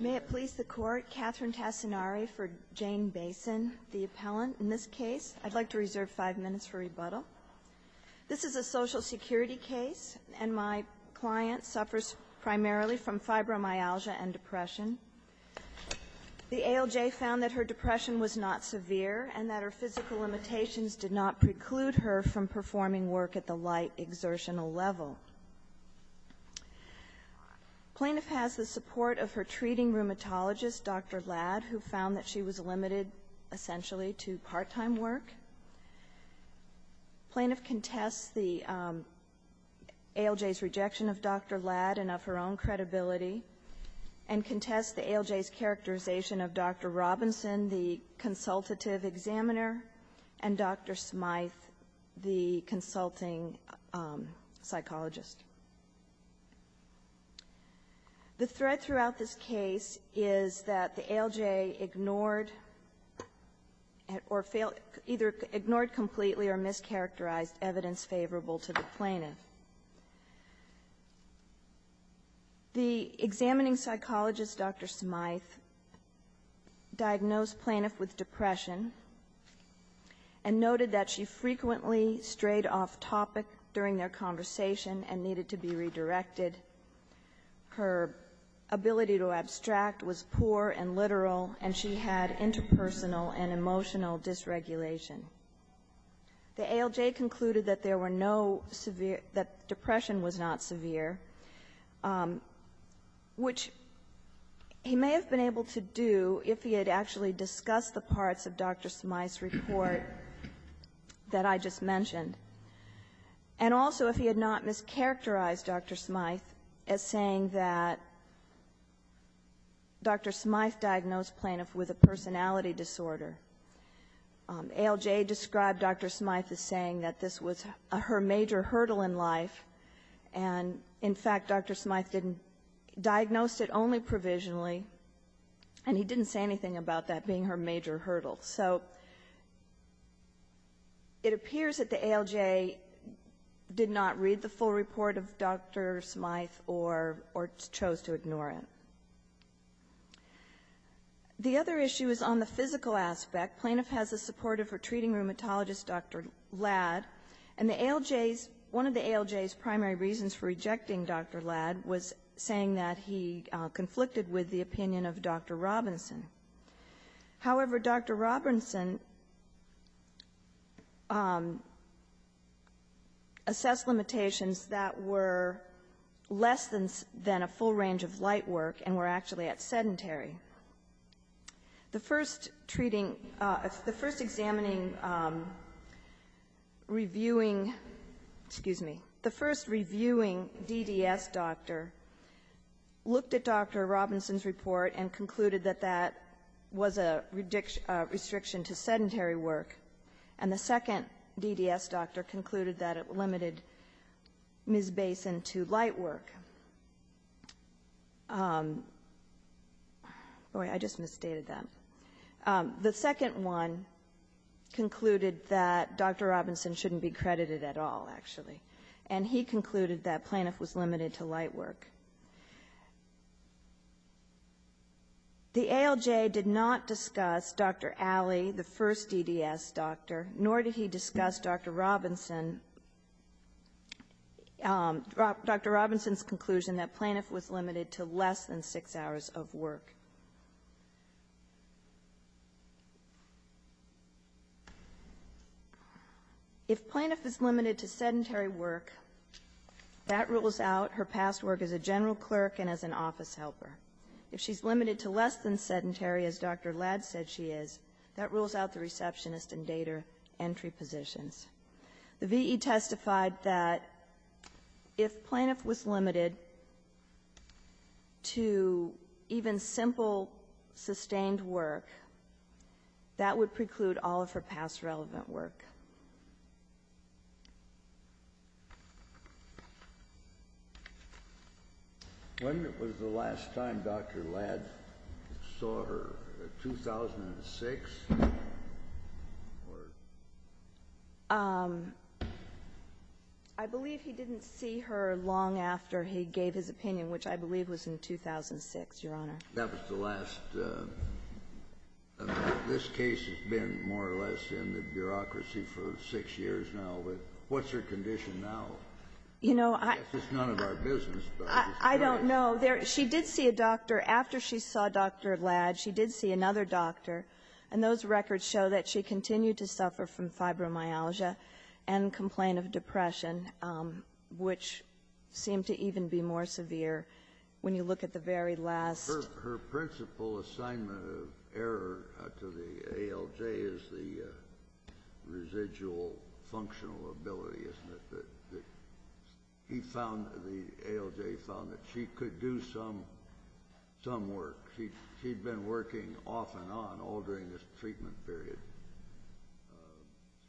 May it please the Court, Katherine Tassinari for Jane Bason, the appellant in this case. I'd like to reserve five minutes for rebuttal. This is a Social Security case, and my client suffers primarily from fibromyalgia and depression. The ALJ found that her depression was not severe and that her physical limitations did not preclude her from performing work at the light exertional level. The plaintiff has the support of her treating rheumatologist, Dr. Ladd, who found that she was limited essentially to part-time work. The plaintiff contests the ALJ's rejection of Dr. Ladd and of her own credibility and contests the ALJ's characterization of Dr. Robinson, the consultative examiner, and Dr. Smyth, the consulting psychologist. The threat throughout this case is that the ALJ ignored or failed or ignored completely or mischaracterized evidence favorable to the plaintiff. The examining psychologist, Dr. Smyth, diagnosed plaintiff with depression. And noted that she frequently strayed off topic during their conversation and needed to be redirected. Her ability to abstract was poor and literal, and she had interpersonal and emotional dysregulation. The ALJ concluded that there were no severe — that depression was not severe, which he may have been able to do if he had actually discussed the parts of Dr. Smyth's report that I just mentioned, and also if he had not mischaracterized Dr. Smyth as saying that Dr. Smyth diagnosed plaintiff with a personality disorder. ALJ described Dr. Smyth as saying that this was her major hurdle in life, and, in fact, Dr. Smyth diagnosed it only provisionally, and he didn't say anything about that being her major hurdle. So it appears that the ALJ did not read the full report of Dr. Smyth or chose to ignore it. The other issue is on the physical aspect. Plaintiff has the support of her treating rheumatologist, Dr. Ladd, and the ALJ's — one of the ALJ's primary reasons for rejecting Dr. Ladd was saying that he conflicted with the opinion of Dr. Robinson. However, Dr. Robinson assessed limitations that were less than a full range of light work and were actually at sedentary. The first treating — the first examining, reviewing — excuse me. The first reviewing DDS doctor looked at Dr. Robinson's report and concluded that that was a restriction to sedentary work, and the second DDS doctor concluded that it limited Ms. Basin to light work. Okay. Boy, I just misstated that. The second one concluded that Dr. Robinson shouldn't be credited at all, actually, and he concluded that plaintiff was limited to light work. The ALJ did not discuss Dr. Alley, the first DDS doctor, nor did he discuss Dr. Robinson. Dr. Robinson's conclusion that plaintiff was limited to less than six hours of work. If plaintiff is limited to sedentary work, that rules out her past work as a general clerk and as an office helper. If she's limited to less than sedentary, as Dr. Ladd said she is, that rules out the receptionist and dater entry positions. The V.E. testified that if plaintiff was limited to even simple sustained work, that would preclude all of her past relevant work. When was the last time Dr. Ladd saw her, 2006? I believe he didn't see her long after he gave his opinion, which I believe was in 2006, Your Honor. That was the last. This case has been more or less in the bureaucracy for six years now. What's her condition now? You know, I don't know. She did see a doctor. After she saw Dr. Ladd, she did see another doctor. And those records show that she continued to suffer from fibromyalgia and complaint of depression, which seemed to even be more severe when you look at the very last Her principal assignment of error to the ALJ is the residual functional ability, isn't it? The ALJ found that she could do some work. She'd been working off and on all during this treatment period,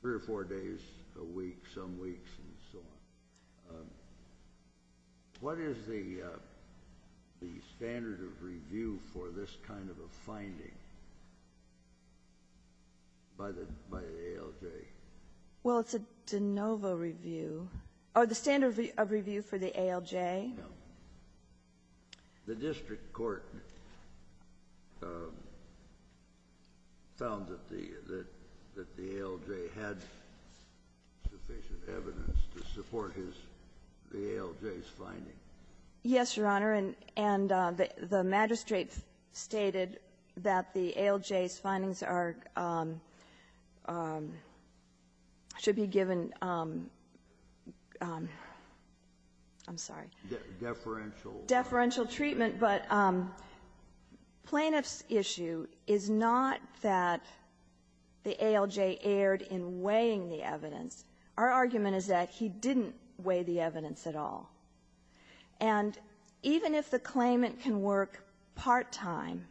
three or four days a week, some weeks, and so on. What is the standard of review for this kind of a finding by the ALJ? Well, it's a de novo review, or the standard of review for the ALJ. No. The district court found that the ALJ had sufficient evidence to support the ALJ's finding. Yes, Your Honor. And the magistrate stated that the ALJ's findings are — should be given — I'm sorry. Deferential. Deferential treatment. But plaintiff's issue is not that the ALJ erred in weighing the evidence. Our argument is that he didn't weigh the evidence at all. And even if the claimant can work part-time,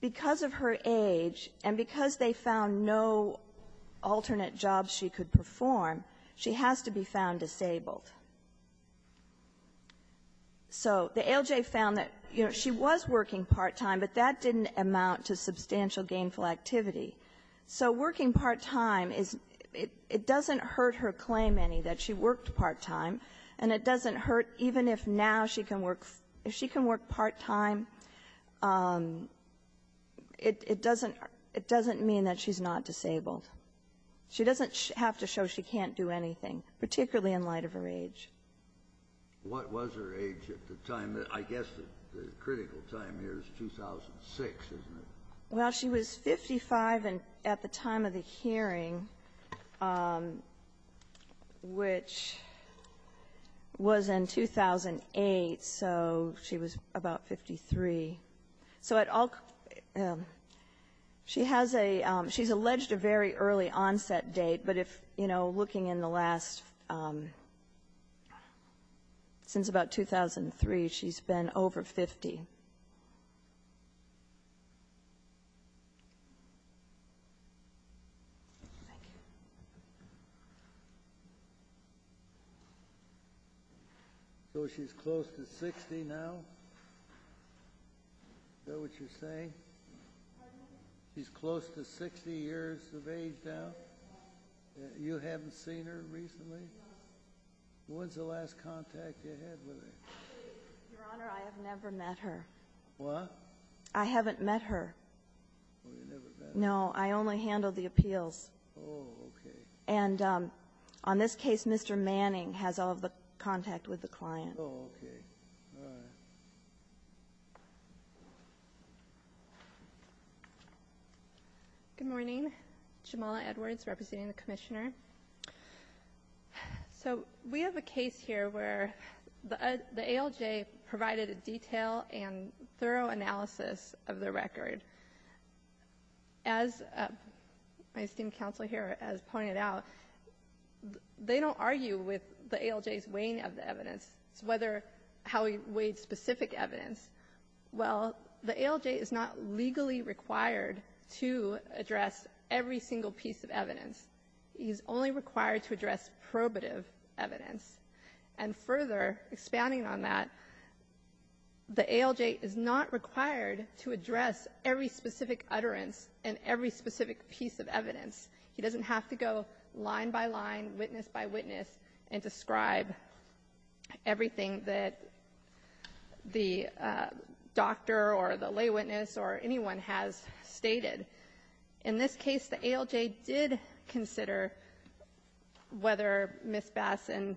because of her age and because they found no alternate jobs she could perform, she has to be found disabled. So the ALJ found that, you know, she was working part-time, but that didn't amount to substantial gainful activity. So working part-time is — it doesn't hurt her claim any that she worked part-time, and it doesn't hurt even if now she can work — if she can work part-time, it doesn't — it doesn't mean that she's not disabled. She doesn't have to show she can't do anything, particularly in light of her age. What was her age at the time? I guess the critical time here is 2006, isn't it? Well, she was 55 at the time of the hearing, which was in 2008. So she was about 53. So at all — she has a — she's alleged a very early onset date. But if — you know, looking in the last — since about 2003, she's been over 50. Thank you. So she's close to 60 now? Is that what you're saying? Pardon me? She's close to 60 years of age now? You haven't seen her recently? When's the last contact you had with her? Your Honor, I have never met her. What? I haven't met her. Oh, you never met her. No. I only handled the appeals. Oh, okay. And on this case, Mr. Manning has all of the contact with the client. Oh, okay. All right. Good morning. Jamala Edwards, representing the Commissioner. So we have a case here where the ALJ provided a detailed and thorough analysis of the record. As my esteemed counsel here has pointed out, they don't argue with the ALJ's weighing of the evidence. It's whether — how we weighed specific evidence. Well, the ALJ is not legally required to address every single piece of evidence. He's only required to address probative evidence. And further, expanding on that, the ALJ is not required to address every specific utterance and every specific piece of evidence. He doesn't have to go line by line, witness by witness, and describe everything that the doctor or the lay witness or anyone has stated. In this case, the ALJ did consider whether Ms. Bassan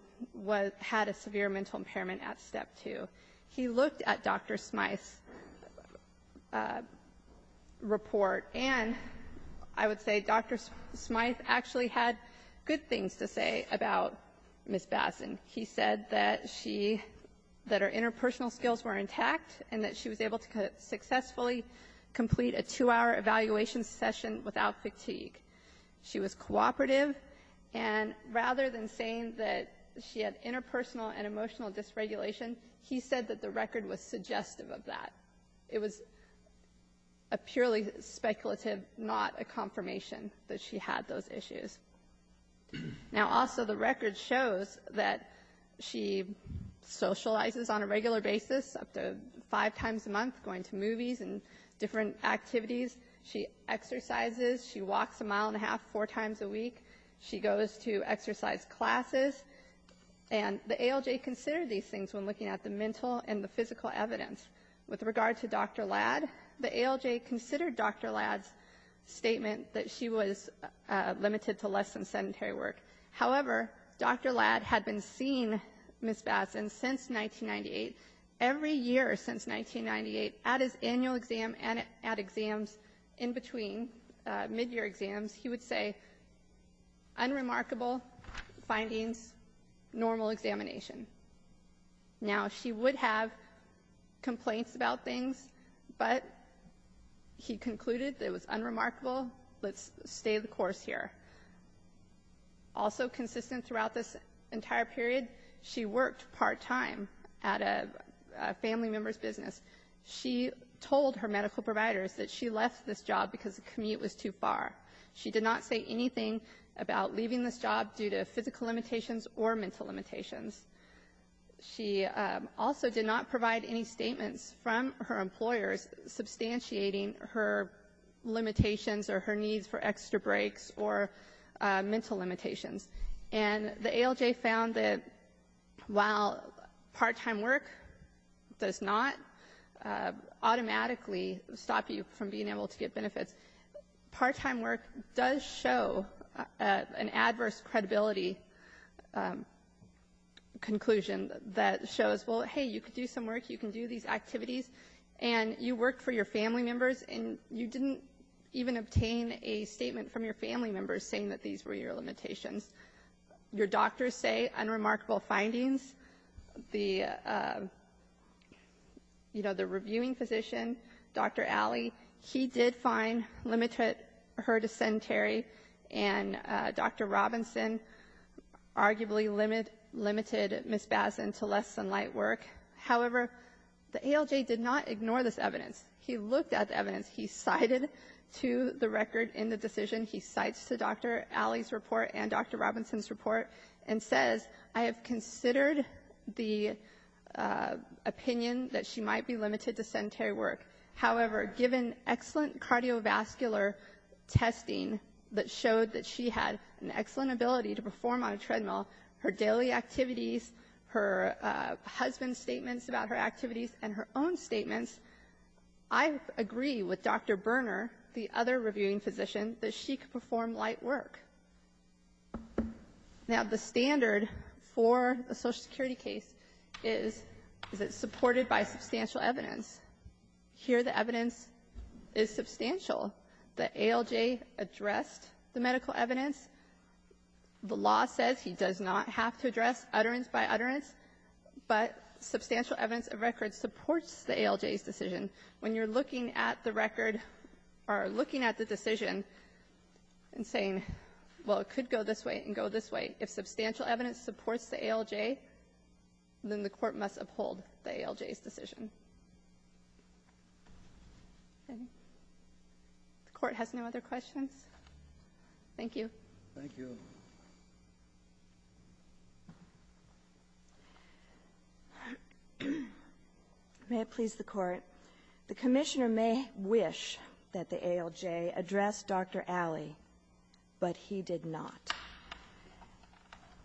had a severe mental impairment at Step 2. He looked at Dr. Smyth's report, and I would say Dr. Smyth actually had good things to say about Ms. Bassan. He said that she — that her interpersonal skills were intact and that she was able to successfully complete a two-hour evaluation session without fatigue. She was cooperative, and rather than saying that she had interpersonal and emotional dysregulation, he said that the record was suggestive of that. It was a purely speculative, not a confirmation that she had those issues. Now, also, the record shows that she socializes on a regular basis, up to five times a month, going to movies and different activities. She exercises. She walks a mile and a half four times a week. She goes to exercise classes. And the ALJ considered these things when looking at the mental and the physical evidence. With regard to Dr. Ladd, the ALJ considered Dr. Ladd's statement that she was limited to less than sedentary work. However, Dr. Ladd had been seeing Ms. Bassan since 1998. Every year since 1998, at his annual exam and at exams in between, midyear exams, he would say, unremarkable findings, normal examination. Now, she would have complaints about things, but he concluded it was unremarkable. Let's stay the course here. Also consistent throughout this entire period, she worked part-time at a family member's business. She told her medical providers that she left this job because the commute was too far. She did not say anything about leaving this job due to physical limitations or mental limitations. She also did not provide any statements from her employers substantiating her limitations or her needs for extra breaks or mental limitations. And the ALJ found that while part-time work does not automatically stop you from being able to get benefits, part-time work does show an adverse credibility conclusion that shows, well, hey, you can do some work, you can do these activities, and you worked for your family members, and you didn't even obtain a statement from your family members saying that these were your limitations. Your doctors say unremarkable findings. The, you know, the reviewing physician, Dr. Alley, he did find limited her dysentery, and Dr. Robinson arguably limited Ms. Bazin to less than light work. However, the ALJ did not ignore this evidence. He looked at the evidence. He cited to the record in the decision, he cites to Dr. Alley's report and Dr. Robinson's report, and says, I have considered the opinion that she might be limited to sedentary work. However, given excellent cardiovascular testing that showed that she had an excellent ability to perform on a treadmill, her daily activities, her husband's statements about her activities, and her own statements, I agree with Dr. Berner, the other reviewing physician, that she could perform light work. Now, the standard for a Social Security case is that it's supported by substantial evidence. Here, the evidence is substantial. The ALJ addressed the medical evidence. The law says he does not have to address utterance by utterance, but substantial evidence of record supports the ALJ's decision. When you're looking at the record or looking at the decision and saying, well, it could go this way and go this way, if substantial evidence supports the ALJ, then the court must uphold the ALJ's decision. The court has no other questions? Thank you. Thank you. May it please the Court. The Commissioner may wish that the ALJ address Dr. Alley, but he did not.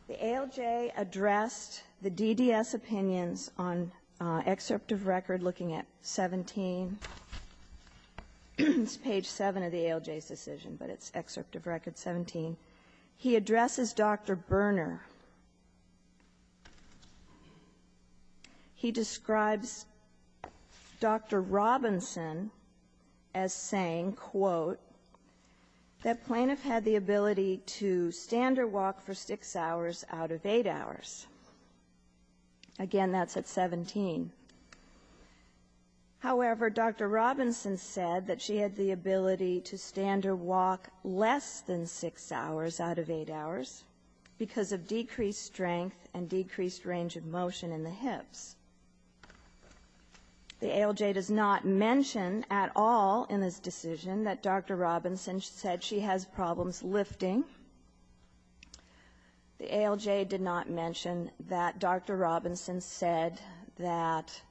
The ALJ addressed the DDS opinions on excerpt of record looking at 17. It's page 7 of the ALJ's decision, but it's excerpt of record 17. He addresses Dr. Berner. He describes Dr. Robinson as saying, quote, that plaintiff had the ability to stand or walk for 6 hours out of 8 hours. Again, that's at 17. However, Dr. Robinson said that she had the ability to stand or walk less than 6 hours out of 8 hours because of decreased strength and decreased range of motion in the hips. The ALJ does not mention at all in this decision that Dr. Robinson said she has problems lifting. The ALJ did not mention that Dr. Robinson said that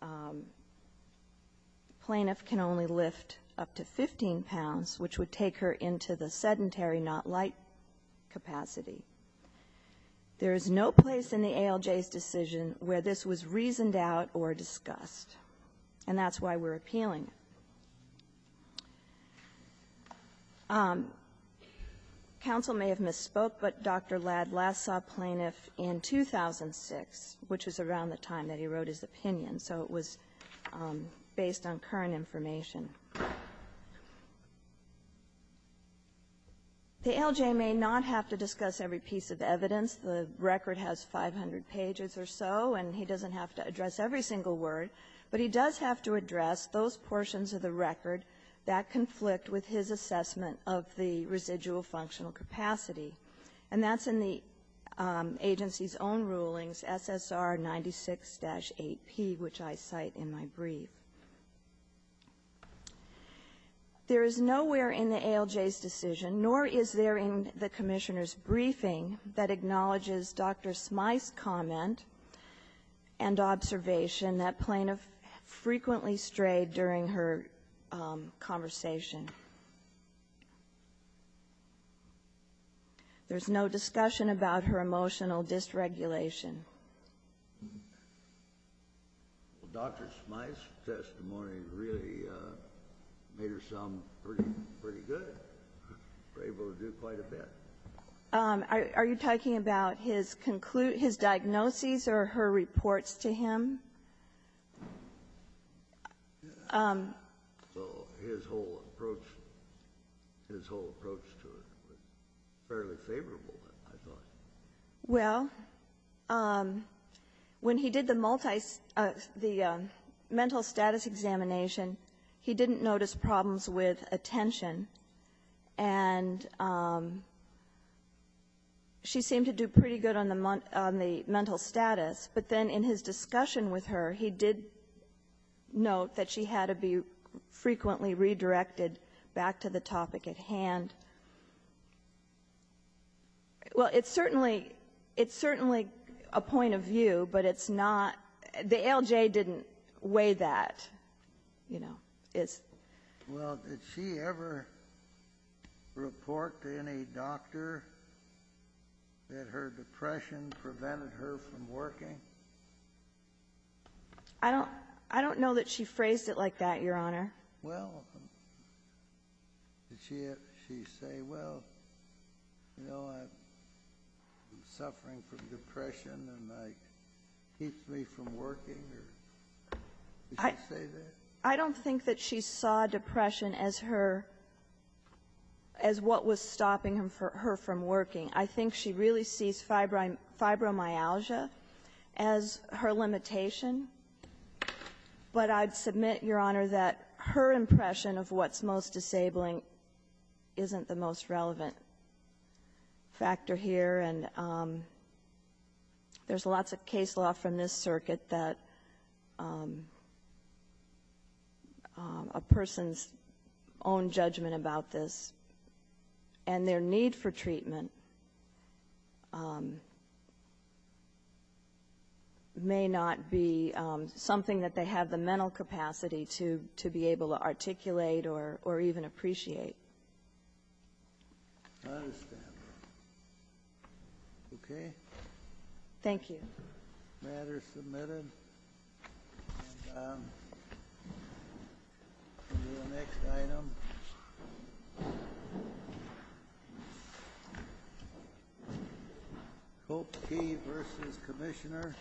the plaintiff can only lift up to 15 pounds, which would take her into the sedentary not light capacity. There is no place in the ALJ's decision where this was reasoned out or discussed. And that's why we're appealing. Counsel may have misspoke, but Dr. Ladd last saw plaintiff in 2006, which was around the time that he wrote his opinion. So it was based on current information. The ALJ may not have to discuss every piece of evidence. The record has 500 pages or so, and he doesn't have to address every single word. But he does have to address those portions of the record that conflict with his assessment of the residual functional capacity. And that's in the agency's own rulings, SSR 96-8P, which I cite in my brief. There is nowhere in the ALJ's decision, nor is there in the Commissioner's comment and observation that plaintiff frequently strayed during her conversation. There's no discussion about her emotional dysregulation. Dr. Smyth's testimony really made her sound pretty good, able to do quite a bit. Are you talking about his conclude his diagnoses or her reports to him? So his whole approach, his whole approach to it was fairly favorable, I thought. Well, when he did the multi the mental status examination, he didn't notice problems with attention, and she seemed to do pretty good on the mental status. But then in his discussion with her, he did note that she had to be frequently redirected back to the topic at hand. Well, it's certainly a point of view, but it's not the ALJ didn't weigh that, you know. Yes. Well, did she ever report to any doctor that her depression prevented her from working? I don't know that she phrased it like that, Your Honor. Well, did she say, well, you know, I'm suffering from depression and it keeps me from working? Did she say that? I don't think that she saw depression as her as what was stopping her from working. I think she really sees fibromyalgia as her limitation, but I'd submit, Your Honor, that her impression of what's most disabling isn't the most relevant factor here. And there's lots of case law from this circuit that a person's own judgment about this and their need for treatment may not be something that they have the mental capacity to be able to articulate or even appreciate. I understand, Your Honor. Okay? Thank you. The matter is submitted. And we'll do the next item. Hope Key v. Commissioner.